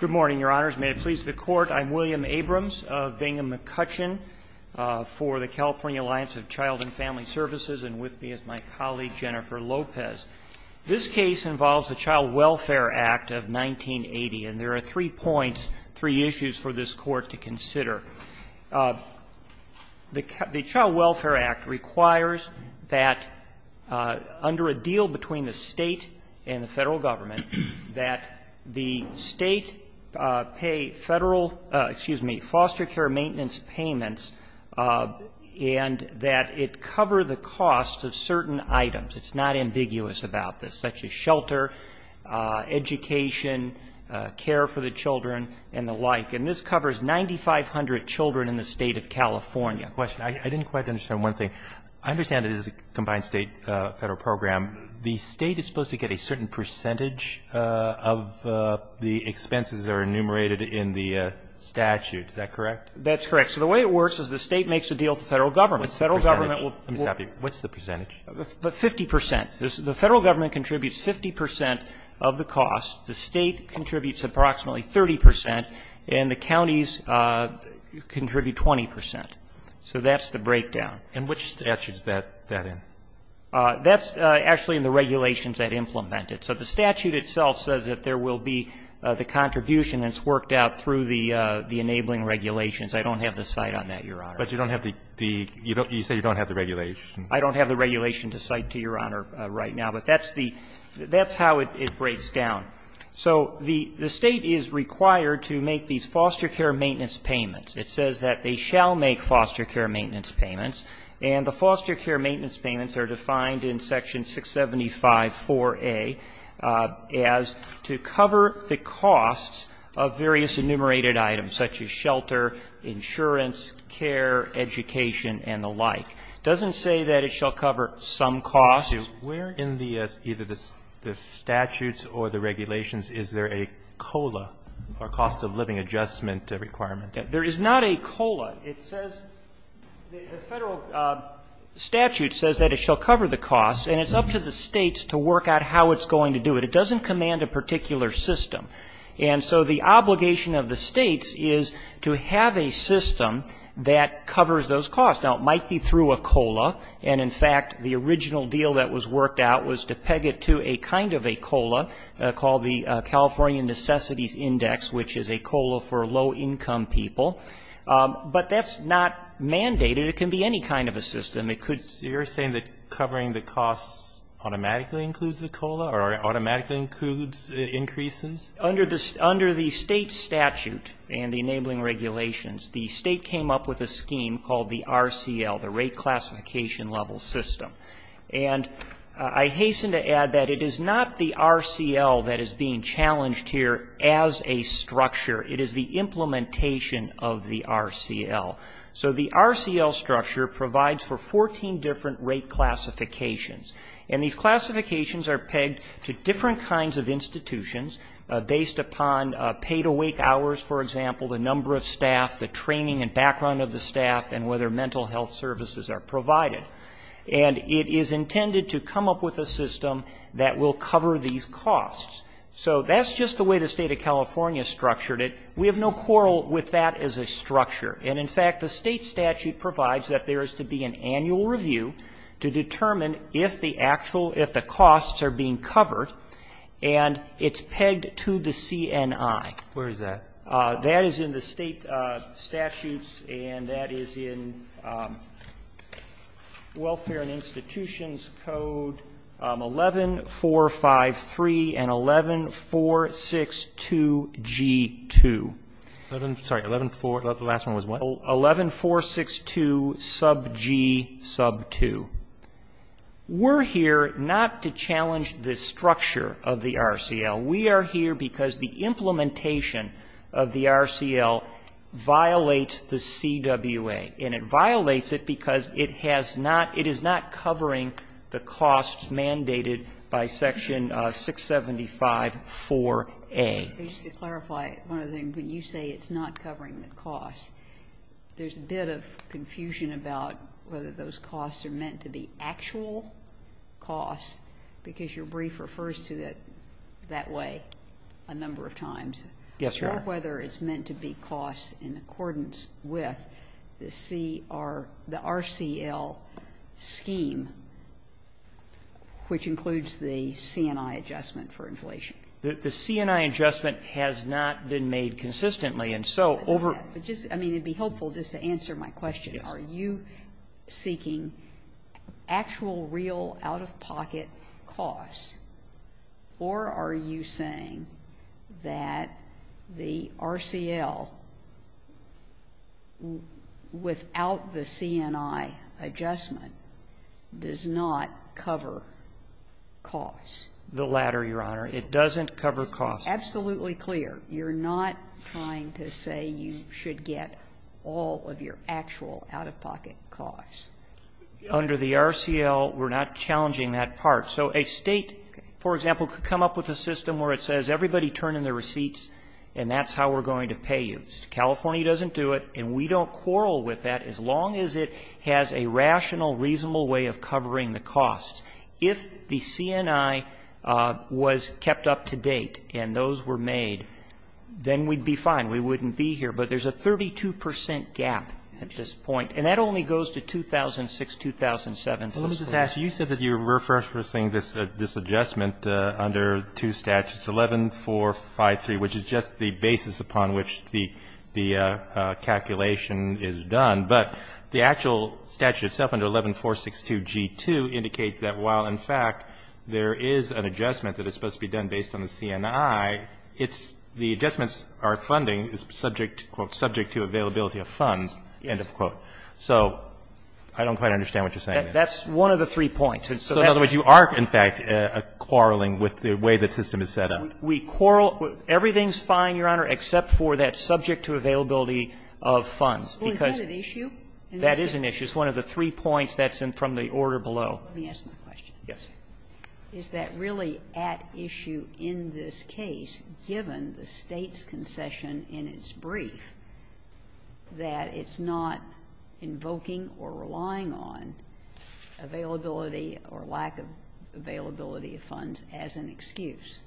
Good morning, Your Honors. May it please the Court, I'm William Abrams of Bingham McCutcheon for the California Alliance of Child and Family Services and with me is my colleague Jennifer Lopez. This case involves the Child Welfare Act of 1980 and there are three points, three issues for this Court to consider. The Child Welfare Act requires that under a deal between the State and the Federal Government that the State pay Federal, excuse me, foster care maintenance payments and that it cover the cost of certain items. It's not ambiguous about this, such as shelter, education, care for the children and the like. And this covers 9,500 children in the State of California. Mr. Lopez, I didn't quite understand one thing. I understand it is a combined State-Federal program. The State is supposed to get a certain percentage of the expenses that are enumerated in the statute, is that correct? That's correct. So the way it works is the State makes a deal with the Federal Government. What's the percentage? Let me stop you. What's the percentage? Fifty percent. The Federal Government contributes 50 percent of the cost, the State contributes approximately 30 percent, and the counties contribute 20 percent. So that's the breakdown. And which statute is that in? That's actually in the regulations that implement it. So the statute itself says that there will be the contribution that's worked out through the enabling regulations. I don't have the cite on that, Your Honor. But you don't have the – you say you don't have the regulation. I don't have the regulation to cite to Your Honor right now. But that's the – that's how it breaks down. So the State is required to make these foster care maintenance payments. It says that they shall make foster care maintenance payments. And the foster care maintenance payments are defined in Section 675.4a as to cover the costs of various enumerated items, such as shelter, insurance, care, education, and the like. It doesn't say that it shall cover some costs. Where in the – either the statutes or the regulations is there a COLA, or cost of living adjustment requirement? There is not a COLA. It says – the federal statute says that it shall cover the costs. And it's up to the states to work out how it's going to do it. It doesn't command a particular system. And so the obligation of the states is to have a system that covers those costs. Now, it might be through a COLA. And, in fact, the original deal that was worked out was to peg it to a kind of a COLA called the California Necessities Index, which is a COLA for low-income people. But that's not mandated. It can be any kind of a system. It could – So you're saying that covering the costs automatically includes a COLA, or automatically includes increases? Under the – under the state statute and the enabling regulations, the state came up with a scheme called the RCL, the rate classification level system. And I hasten to add that it is not the RCL that is being challenged here as a structure. It is the implementation of the RCL. So the RCL structure provides for 14 different rate classifications. And these classifications are pegged to different kinds of institutions based upon paid awake hours, for example, the number of staff, the training and background of the staff, and whether mental health services are provided. And it is intended to come up with a system that will cover these costs. So that's just the way the state of California structured it. We have no quarrel with that as a structure. And, in fact, the state statute provides that there is to be an annual review to determine if the actual – if the costs are being covered. And it's pegged to the CNI. Where is that? That is in the state statutes, and that is in Welfare and Institutions Code 11453 and 11462G2. Sorry, 114 – the last one was what? 11462G2. We're here not to challenge the structure of the RCL. We are here because the implementation of the RCL violates the CWA. And it violates it because it has not – it is not covering the costs mandated by Section 675-4A. Just to clarify one other thing, when you say it's not covering the costs, there's a bit of confusion about whether those costs are meant to be actual costs, because your question was asked a number of times. Yes, Your Honor. I'm not sure whether it's meant to be costs in accordance with the CR – the RCL scheme, which includes the CNI adjustment for inflation. The CNI adjustment has not been made consistently, and so over – But just – I mean, it would be helpful just to answer my question. Yes. Are you seeking actual, real, out-of-pocket costs, or are you saying that the RCL, without the CNI adjustment, does not cover costs? The latter, Your Honor. It doesn't cover costs. You're not trying to say you should get all of your actual out-of-pocket costs. Under the RCL, we're not challenging that part. So a State, for example, could come up with a system where it says everybody turn in their receipts, and that's how we're going to pay you. California doesn't do it, and we don't quarrel with that as long as it has a rational, reasonable way of covering the costs. If the CNI was kept up to date and those were made, then we'd be fine. We wouldn't be here. But there's a 32 percent gap at this point, and that only goes to 2006, 2007. Well, let me just ask. You said that you were referencing this adjustment under two statutes, 11-4-5-3, which is just the basis upon which the calculation is done. But the actual statute itself under 11-4-6-2-G2 indicates that while, in fact, there is an adjustment that is supposed to be done based on the CNI, it's the adjustments are funding is subject, quote, subject to availability of funds, end of quote. So I don't quite understand what you're saying there. That's one of the three points. So in other words, you are, in fact, quarreling with the way the system is set up. We quarrel. Well, is that an issue? That is an issue. It's one of the three points that's from the order below. Let me ask my question. Yes. Is that really at issue in this case, given the State's concession in its brief, that it's not invoking or relying on availability or lack of availability of funds as an excuse?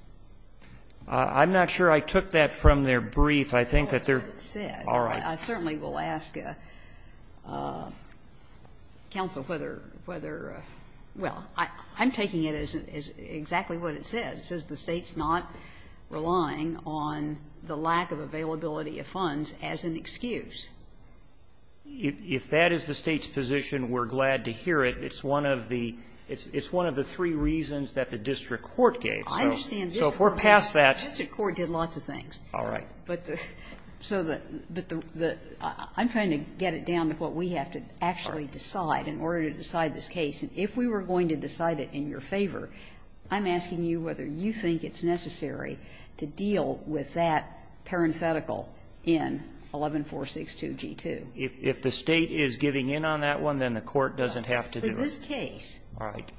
I'm not sure I took that from their brief. I think that they're all right. I certainly will ask counsel whether, well, I'm taking it as exactly what it says. It says the State's not relying on the lack of availability of funds as an excuse. If that is the State's position, we're glad to hear it. It's one of the three reasons that the district court gave. I understand. So if we're past that. The district court did lots of things. All right. So I'm trying to get it down to what we have to actually decide in order to decide this case. And if we were going to decide it in your favor, I'm asking you whether you think it's necessary to deal with that parenthetical in 11462G2. If the State is giving in on that one, then the court doesn't have to do it. For this case. All right.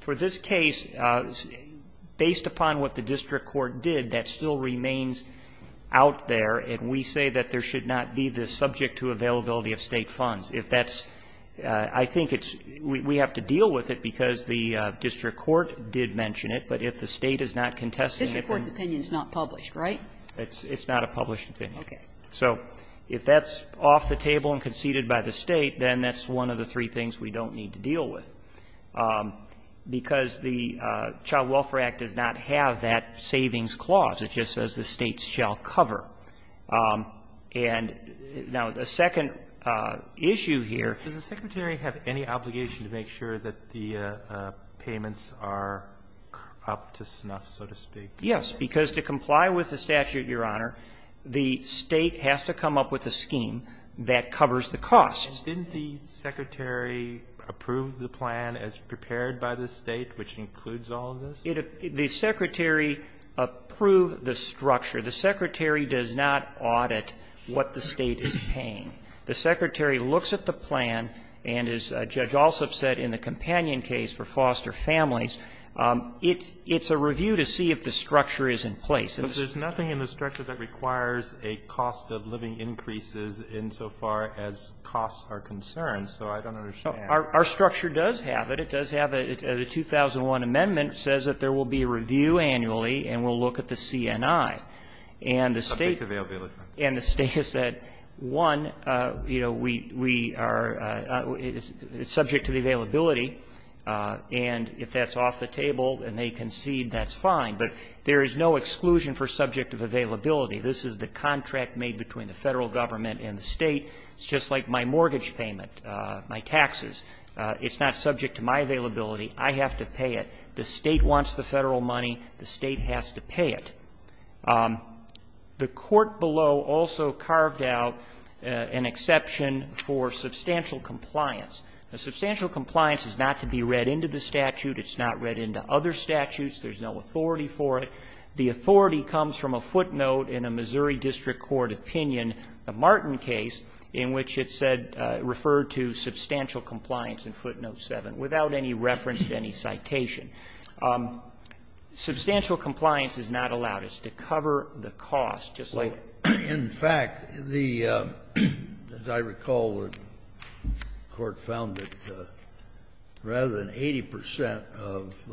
And we say that there should not be this subject to availability of State funds. If that's ‑‑ I think it's ‑‑ we have to deal with it because the district court did mention it. But if the State is not contesting it. The district court's opinion is not published, right? It's not a published opinion. Okay. So if that's off the table and conceded by the State, then that's one of the three things we don't need to deal with. Because the Child Welfare Act does not have that savings clause. It just says the State shall cover. And now, the second issue here ‑‑ Does the Secretary have any obligation to make sure that the payments are up to snuff, so to speak? Yes. Because to comply with the statute, Your Honor, the State has to come up with a scheme that covers the costs. Didn't the Secretary approve the plan as prepared by the State, which includes all of this? The Secretary approved the structure. The Secretary does not audit what the State is paying. The Secretary looks at the plan and, as Judge Alsop said in the companion case for foster families, it's a review to see if the structure is in place. But there's nothing in the structure that requires a cost of living increases insofar as costs are concerned. So I don't understand. Our structure does have it. The 2001 amendment says that there will be a review annually and we'll look at the CNI. And the State ‑‑ Subject to availability. And the State has said, one, you know, we are ‑‑ it's subject to the availability. And if that's off the table and they concede, that's fine. But there is no exclusion for subject of availability. This is the contract made between the Federal Government and the State. It's just like my mortgage payment, my taxes. It's not subject to my availability. I have to pay it. The State wants the Federal money. The State has to pay it. The court below also carved out an exception for substantial compliance. Now, substantial compliance is not to be read into the statute. It's not read into other statutes. There's no authority for it. The authority comes from a footnote in a Missouri District Court opinion, a Martin case, in which it said ‑‑ referred to substantial compliance in footnote 7 without any reference to any citation. Substantial compliance is not allowed. It's to cover the cost. Just like ‑‑ Well, in fact, the ‑‑ as I recall, the court found that rather than 80 percent of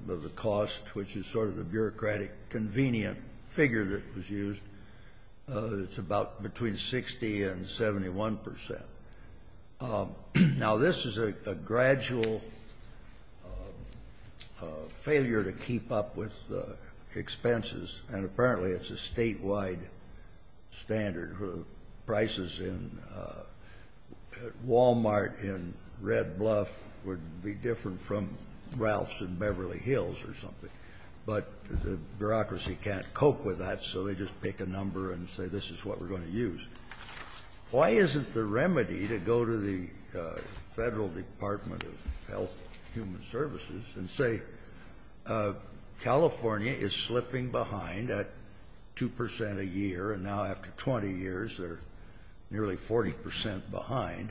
the cost, which is sort of the bureaucratic convenient figure that was used, it's about between 60 and 71 percent. Now, this is a gradual failure to keep up with expenses, and apparently it's a statewide standard. Prices in Wal‑Mart in Red Bluff would be different from Ralph's in Beverly Hills or something, but the bureaucracy can't cope with that, so they just pick a number and say this is what we're going to use. Why isn't the remedy to go to the Federal Department of Health and Human Services and say California is slipping behind at 2 percent a year, and now after 20 years they're nearly 40 percent behind,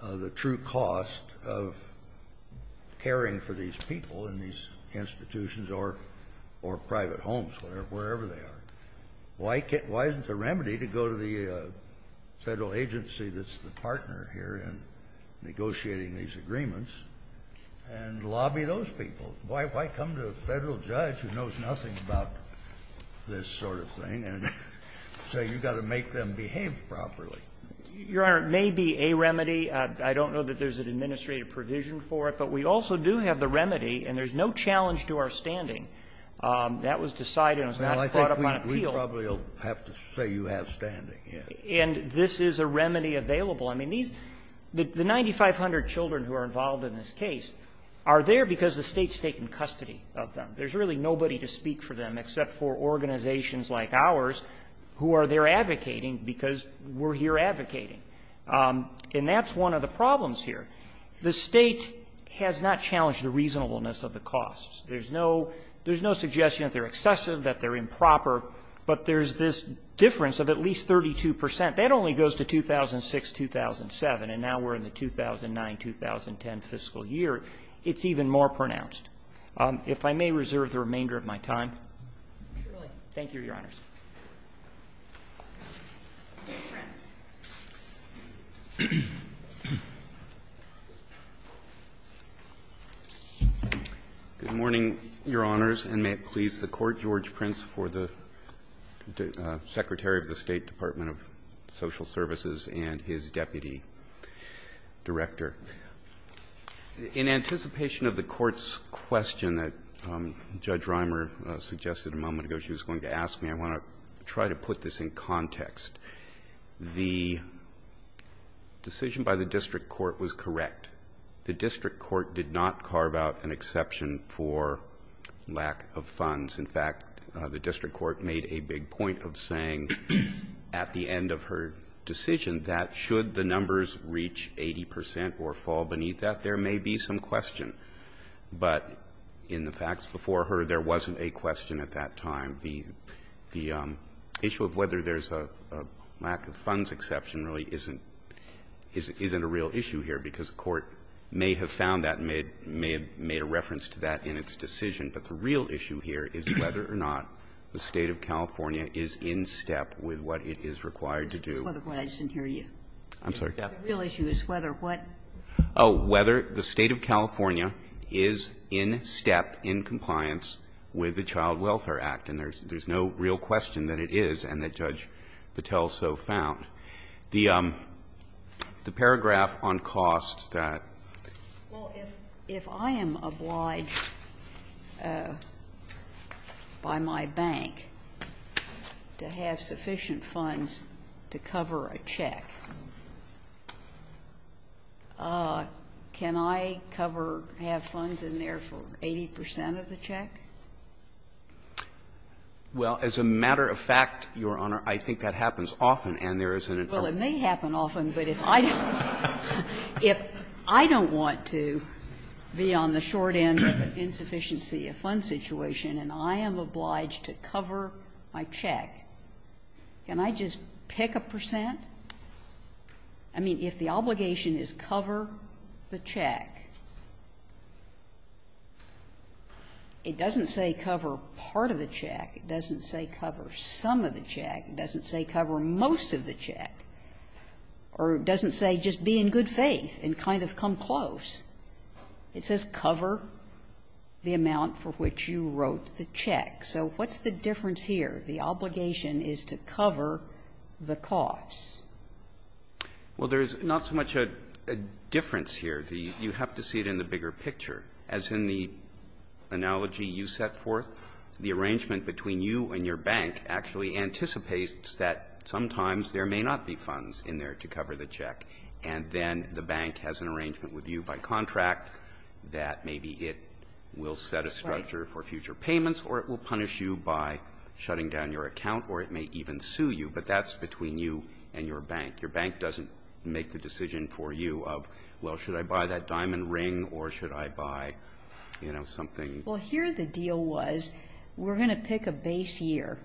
the true cost of caring for these people in these institutions or private homes, wherever they are. Why isn't the remedy to go to the Federal agency that's the partner here in negotiating these agreements and lobby those people? Why come to a Federal judge who knows nothing about this sort of thing and say you've got to make them behave properly? Your Honor, it may be a remedy. I don't know that there's an administrative provision for it, but we also do have the remedy, and there's no challenge to our standing. That was decided and was not brought up on appeal. Well, I think we probably will have to say you have standing, yes. And this is a remedy available. I mean, these — the 9,500 children who are involved in this case are there because the State's taking custody of them. There's really nobody to speak for them except for organizations like ours who are there advocating because we're here advocating. And that's one of the problems here. The State has not challenged the reasonableness of the costs. There's no suggestion that they're excessive, that they're improper, but there's this difference of at least 32 percent. That only goes to 2006-2007, and now we're in the 2009-2010 fiscal year. It's even more pronounced. If I may reserve the remainder of my time. Thank you, Your Honors. Good morning, Your Honors, and may it please the Court. George Prince for the Secretary of the State Department of Social Services and his Deputy Director. In anticipation of the Court's question that Judge Rimer suggested a moment ago, I want to try to put this in context. The decision by the district court was correct. The district court did not carve out an exception for lack of funds. In fact, the district court made a big point of saying at the end of her decision that should the numbers reach 80 percent or fall beneath that, there may be some question. But in the facts before her, there wasn't a question at that time. The issue of whether there's a lack of funds exception really isn't a real issue here, because the Court may have found that and may have made a reference to that in its decision. But the real issue here is whether or not the State of California is in step with what it is required to do. I just didn't hear you. I'm sorry. The real issue is whether what? Oh, whether the State of California is in step in compliance with the Child Welfare Act. And there's no real question that it is and that Judge Patel so found. The paragraph on costs that ---- Well, if I am obliged by my bank to have sufficient funds to cover a check, can I cover or have funds in there for 80 percent of the check? Well, as a matter of fact, Your Honor, I think that happens often, and there isn't an argument. Well, it may happen often, but if I don't want to be on the short end of an insufficiency of funds situation and I am obliged to cover my check, can I just pick a percent? I mean, if the obligation is cover the check, it doesn't say cover part of the check. It doesn't say cover some of the check. It doesn't say cover most of the check. Or it doesn't say just be in good faith and kind of come close. It says cover the amount for which you wrote the check. So what's the difference here? The obligation is to cover the cost. Well, there is not so much a difference here. You have to see it in the bigger picture. As in the analogy you set forth, the arrangement between you and your bank actually anticipates that sometimes there may not be funds in there to cover the check. And then the bank has an arrangement with you by contract that maybe it will set a structure for future payments or it will punish you by shutting down your account or it may even sue you. But that's between you and your bank. Your bank doesn't make the decision for you of, well, should I buy that diamond ring or should I buy, you know, something. Well, here the deal was we're going to pick a base year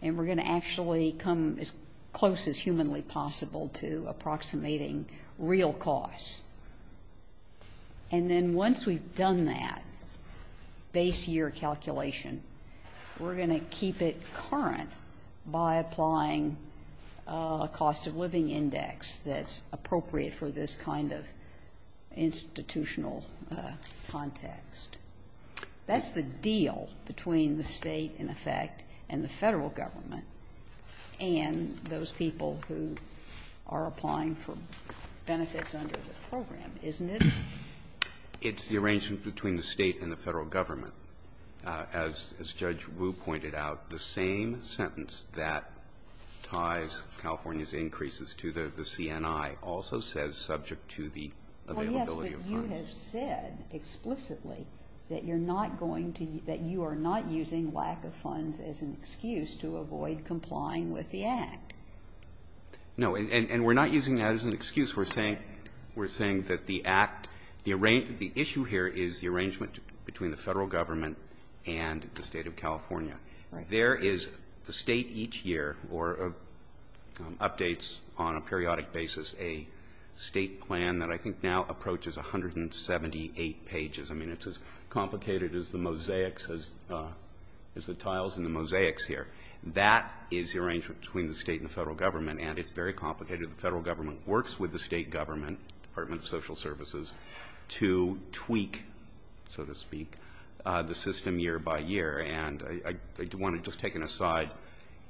and we're going to actually come as close as humanly possible to approximating real costs. And then once we've done that base year calculation, we're going to keep it current by applying a cost of living index that's appropriate for this kind of institutional context. That's the deal between the State, in effect, and the Federal Government, and those people who are applying for benefits under the program, isn't it? It's the arrangement between the State and the Federal Government. As Judge Wu pointed out, the same sentence that ties California's increases to the CNI also says subject to the availability of funds. But you have said explicitly that you are not using lack of funds as an excuse to avoid complying with the Act. No, and we're not using that as an excuse. We're saying that the Act, the issue here is the arrangement between the Federal Government and the State of California. There is the State each year updates on a periodic basis a State plan that I think now approaches 178 pages. I mean, it's as complicated as the mosaics, as the tiles in the mosaics here. That is the arrangement between the State and the Federal Government, and it's very complicated. The Federal Government works with the State Government, Department of Social Services, to tweak, so to speak, the system year by year. And I want to just take an aside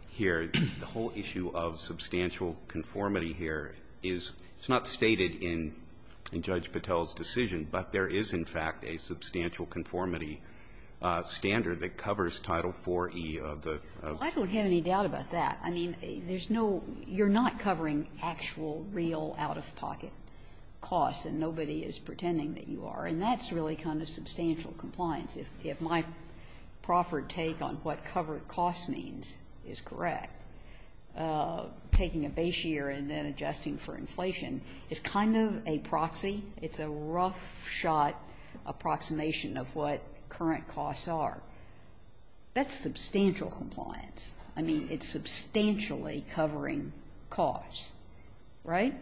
here. The whole issue of substantial conformity here is, it's not stated in Judge Patel's decision, but there is, in fact, a substantial conformity standard that covers Title IV-E of the. Well, I don't have any doubt about that. I mean, there's no, you're not covering actual, real, out-of-pocket costs, and nobody is pretending that you are. And that's really kind of substantial compliance. If my proffered take on what covered costs means is correct, taking a base year and then adjusting for inflation is kind of a proxy. It's a rough-shot approximation of what current costs are. That's substantial compliance. I mean, it's substantially covering costs, right?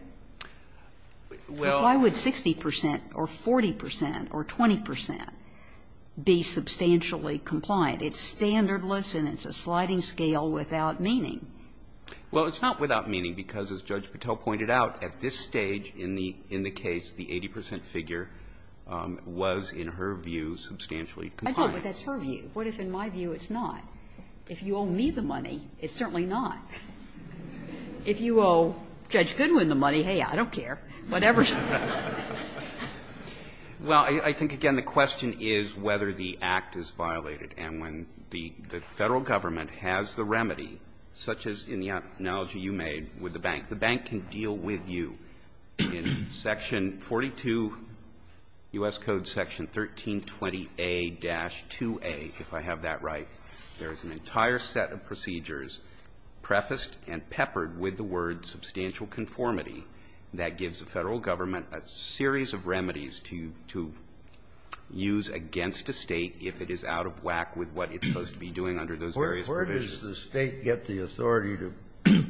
Why would 60 percent or 40 percent or 20 percent be substantially compliant? It's standardless and it's a sliding scale without meaning. Well, it's not without meaning, because as Judge Patel pointed out, at this stage in the case, the 80 percent figure was, in her view, substantially compliant. I know, but that's her view. What if in my view it's not? If you owe me the money, it's certainly not. If you owe Judge Goodwin the money, hey, I don't care. Whatever. Roberts. Well, I think, again, the question is whether the act is violated. And when the Federal Government has the remedy, such as in the analogy you made with the bank, the bank can deal with you in section 42 U.S. Code section 1320a-2a, if I have that right. There is an entire set of procedures prefaced and peppered with the word substantial conformity that gives the Federal Government a series of remedies to use against a State if it is out of whack with what it's supposed to be doing under those various provisions. Where does the State get the authority to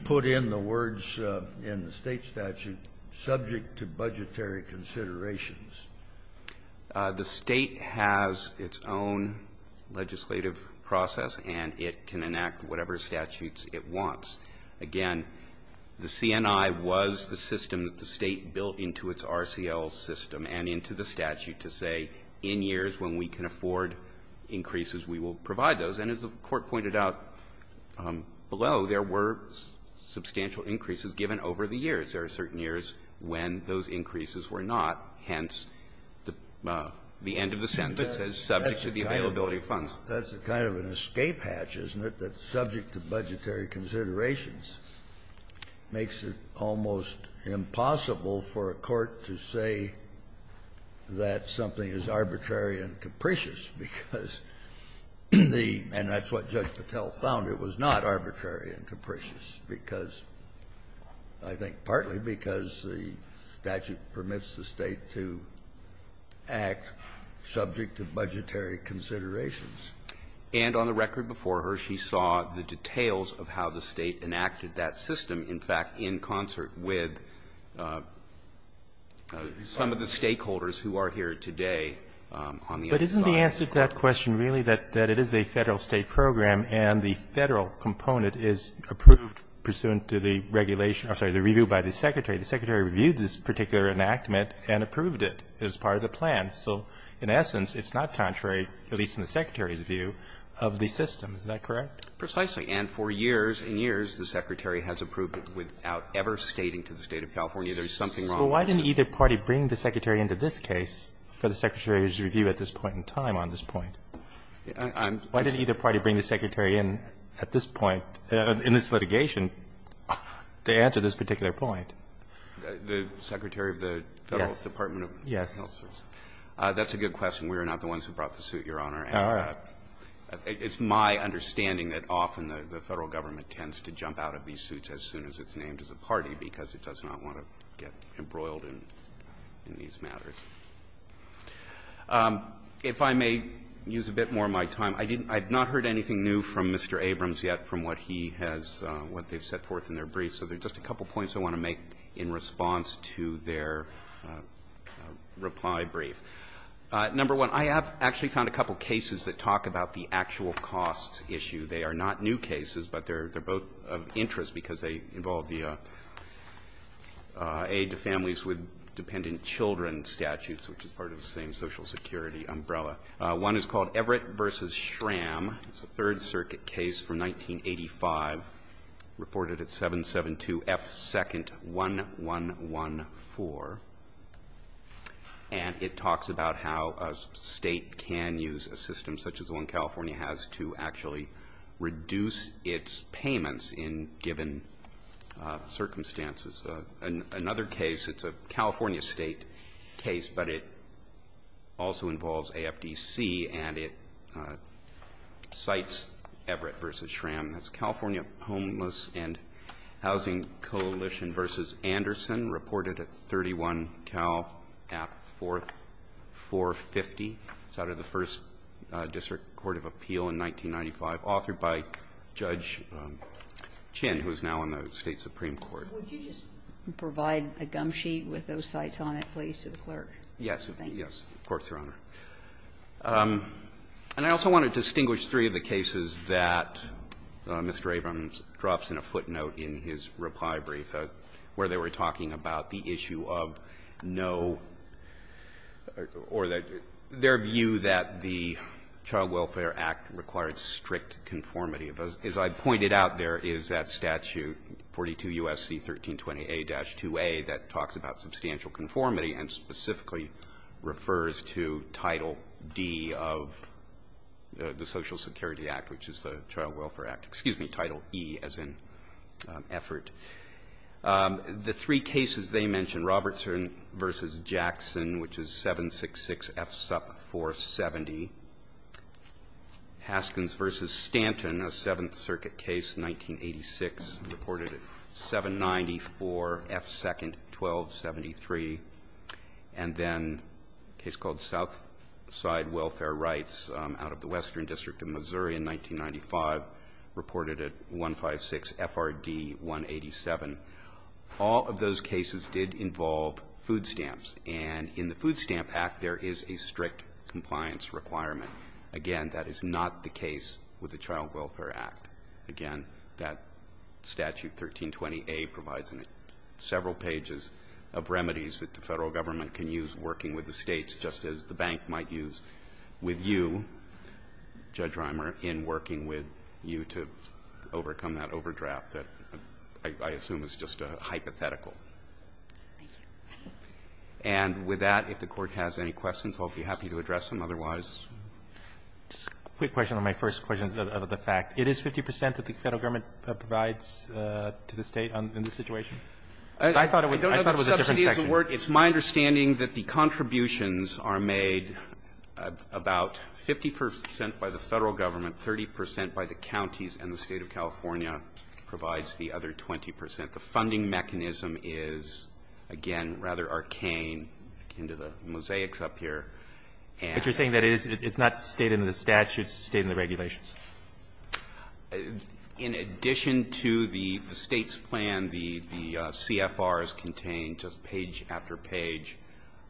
put in the words in the State statute subject to budgetary considerations? The State has its own legislative process, and it can enact whatever statutes it wants. Again, the CNI was the system that the State built into its RCL system and into the statute to say in years when we can afford increases, we will provide those. And as the Court pointed out below, there were substantial increases given over the years. There are certain years when those increases were not. Hence, the end of the sentence says, subject to the availability of funds. That's a kind of an escape hatch, isn't it, that subject to budgetary considerations makes it almost impossible for a court to say that something is arbitrary and capricious, because the — and that's what Judge Patel found. It was not arbitrary and capricious because, I think partly because the statute permits the State to act subject to budgetary considerations. And on the record before her, she saw the details of how the State enacted that system, in fact, in concert with some of the stakeholders who are here today on the other side of the court. But isn't the answer to that question really that it is a Federal State program and the Federal component is approved pursuant to the regulation — I'm sorry, the review by the Secretary? The Secretary reviewed this particular enactment and approved it as part of the plan. So in essence, it's not contrary, at least in the Secretary's view, of the system. Is that correct? Precisely. And for years and years, the Secretary has approved it without ever stating to the State of California there's something wrong with the system. But why didn't either party bring the Secretary into this case for the Secretary's review at this point in time, on this point? Why didn't either party bring the Secretary in at this point, in this litigation, to answer this particular point? The Secretary of the Federal Department of Health? Yes. That's a good question. We are not the ones who brought the suit, Your Honor. All right. It's my understanding that often the Federal Government tends to jump out of these If I may use a bit more of my time, I didn't — I have not heard anything new from Mr. Abrams yet from what he has — what they've set forth in their brief. So there are just a couple of points I want to make in response to their reply brief. Number one, I have actually found a couple of cases that talk about the actual cost issue. They are not new cases, but they're both of interest because they involve the aid to families with dependent children statutes, which is part of the same Social Security umbrella. One is called Everett v. Schramm. It's a Third Circuit case from 1985, reported at 772 F. 2nd. 1114. And it talks about how a state can use a system such as the one California has to actually reduce its payments in given circumstances. This is another case. It's a California State case, but it also involves AFDC, and it cites Everett v. Schramm. It's California Homeless and Housing Coalition v. Anderson, reported at 31 Cal. App. 4, 450. It's out of the First District Court of Appeal in 1995, authored by Judge Chin, who is now in the State Supreme Court. Sotomayor, would you just provide a gumsheet with those cites on it, please, to the Verrilli,, Yes, of course, Your Honor. And I also want to distinguish three of the cases that Mr. Abrams drops in a footnote in his reply brief, where they were talking about the issue of no or their view that the Child Welfare Act required strict conformity. As I pointed out, there is that statute, 42 U.S.C. 1320a-2a, that talks about substantial conformity and specifically refers to Title D of the Social Security Act, which is the Child Welfare Act. Excuse me, Title E, as in effort. The three cases they mentioned, Robertson v. Jackson, which is 766 F. Supp. 470, Haskins v. Stanton, a Seventh Circuit case, 1986, reported at 790 for F. Second 1273, and then a case called Southside Welfare Rights out of the Western District of Missouri in 1995, reported at 156 F.R.D. 187. All of those cases did involve food stamps. And in the Food Stamp Act, there is a strict compliance requirement. Again, that is not the case with the Child Welfare Act. Again, that statute 1320a provides several pages of remedies that the Federal Government can use working with the States, just as the bank might use with you, Judge Reimer, in working with you to overcome that overdraft that I assume is just a hypothetical. Thank you. And with that, if the Court has any questions, I'll be happy to address them otherwise. Just a quick question on my first question of the fact. It is 50 percent that the Federal Government provides to the State in this situation? I thought it was a different section. I don't know if the subsidy is the word. It's my understanding that the contributions are made about 50 percent by the Federal Government, 30 percent by the counties, and the State of California provides the other 20 percent. But the funding mechanism is, again, rather arcane, akin to the mosaics up here. But you're saying that it's not stated in the statute, it's stated in the regulations? In addition to the State's plan, the CFRs contain just page after page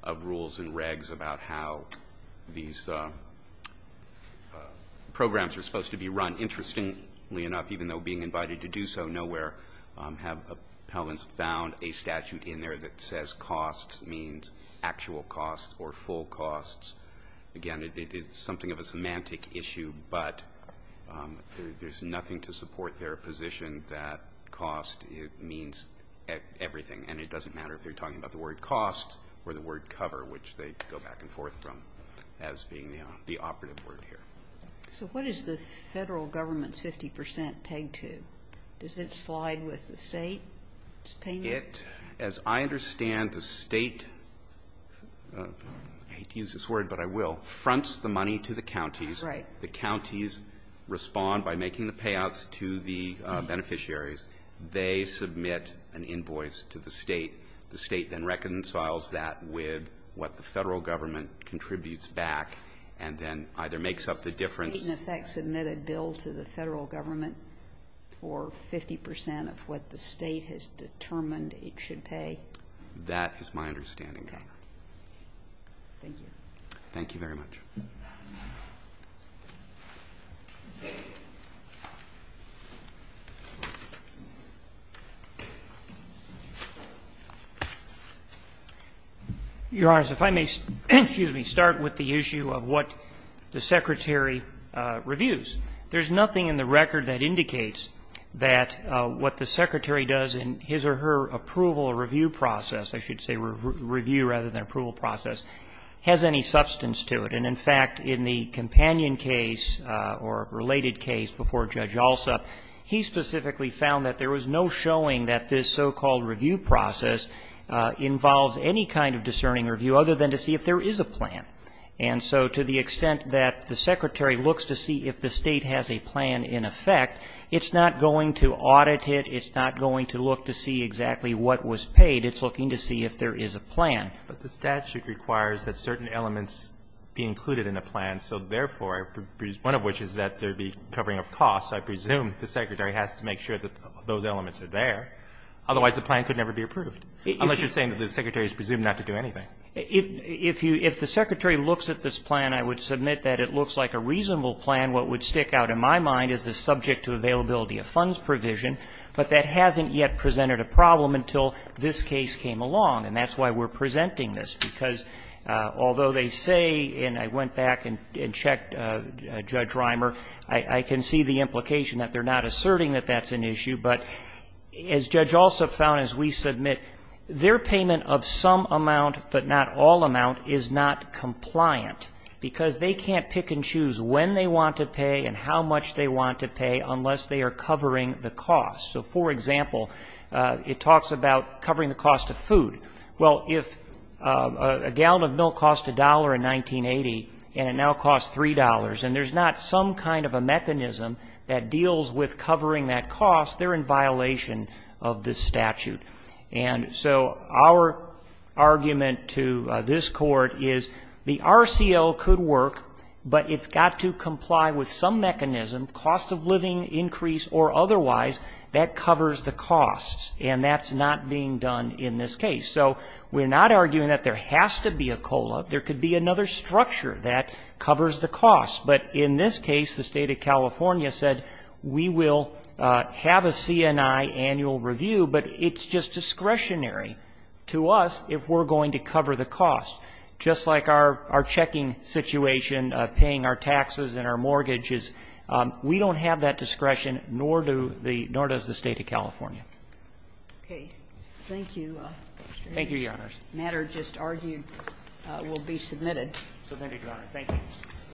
of rules and regs about how these programs are supposed to be run. Interestingly enough, even though being invited to do so nowhere, have appellants found a statute in there that says costs means actual costs or full costs? Again, it's something of a semantic issue, but there's nothing to support their position that cost means everything. And it doesn't matter if they're talking about the word cost or the word cover, which they go back and forth from as being the operative word here. So what is the Federal Government's 50 percent paid to? Does it slide with the State's payment? It, as I understand the State, I hate to use this word, but I will, fronts the money to the counties. The counties respond by making the payouts to the beneficiaries. They submit an invoice to the State. The State then reconciles that with what the Federal Government contributes back and then either makes up the difference. The State in effect submitted a bill to the Federal Government for 50 percent of what the State has determined it should pay? That is my understanding, Your Honor. Thank you. Thank you very much. Your Honors, if I may start with the issue of what the Secretary reviews. There's nothing in the record that indicates that what the Secretary does in his or her approval review process, I should say review rather than approval process, has any substance to it. And in fact, in the companion case or related case before Judge Alsop, he specifically found that there was no showing that this so-called review process involves any kind of discerning review other than to see if there is a plan. And so to the extent that the Secretary looks to see if the State has a plan in effect, it's not going to audit it. It's not going to look to see exactly what was paid. It's looking to see if there is a plan. But the statute requires that certain elements be included in a plan. So therefore, one of which is that there be covering of costs. I presume the Secretary has to make sure that those elements are there. Otherwise, the plan could never be approved, unless you're saying that the Secretary is presumed not to do anything. If you – if the Secretary looks at this plan, I would submit that it looks like a reasonable plan. What would stick out in my mind is the subject to availability of funds provision, but that hasn't yet presented a problem until this case came along. And that's why we're presenting this, because although they say – and I went back and checked Judge Reimer – I can see the implication that they're not asserting that that's an issue. But as Judge Alsop found, as we submit, their payment of some amount but not all amount is not compliant, because they can't pick and choose when they want to pay and how much they want to pay unless they are covering the cost. So, for example, it talks about covering the cost of food. Well, if a gallon of milk cost $1 in 1980, and it now costs $3, and there's not some kind of a mechanism that deals with covering that cost, they're in violation of this statute. And so our argument to this Court is the RCL could work, but it's got to comply with some mechanism, cost of living increase or otherwise, that covers the costs, and that's not being done in this case. So we're not arguing that there has to be a COLA. There could be another structure that covers the cost. But in this case, the State of California said we will have a C&I annual review, but it's just discretionary to us if we're going to cover the cost. Just like our checking situation, paying our taxes and our mortgages, we don't have that discretion, nor does the State of California. Okay. Thank you. Thank you, Your Honors. This matter just argued will be submitted. Submitted, Your Honor. Thank you.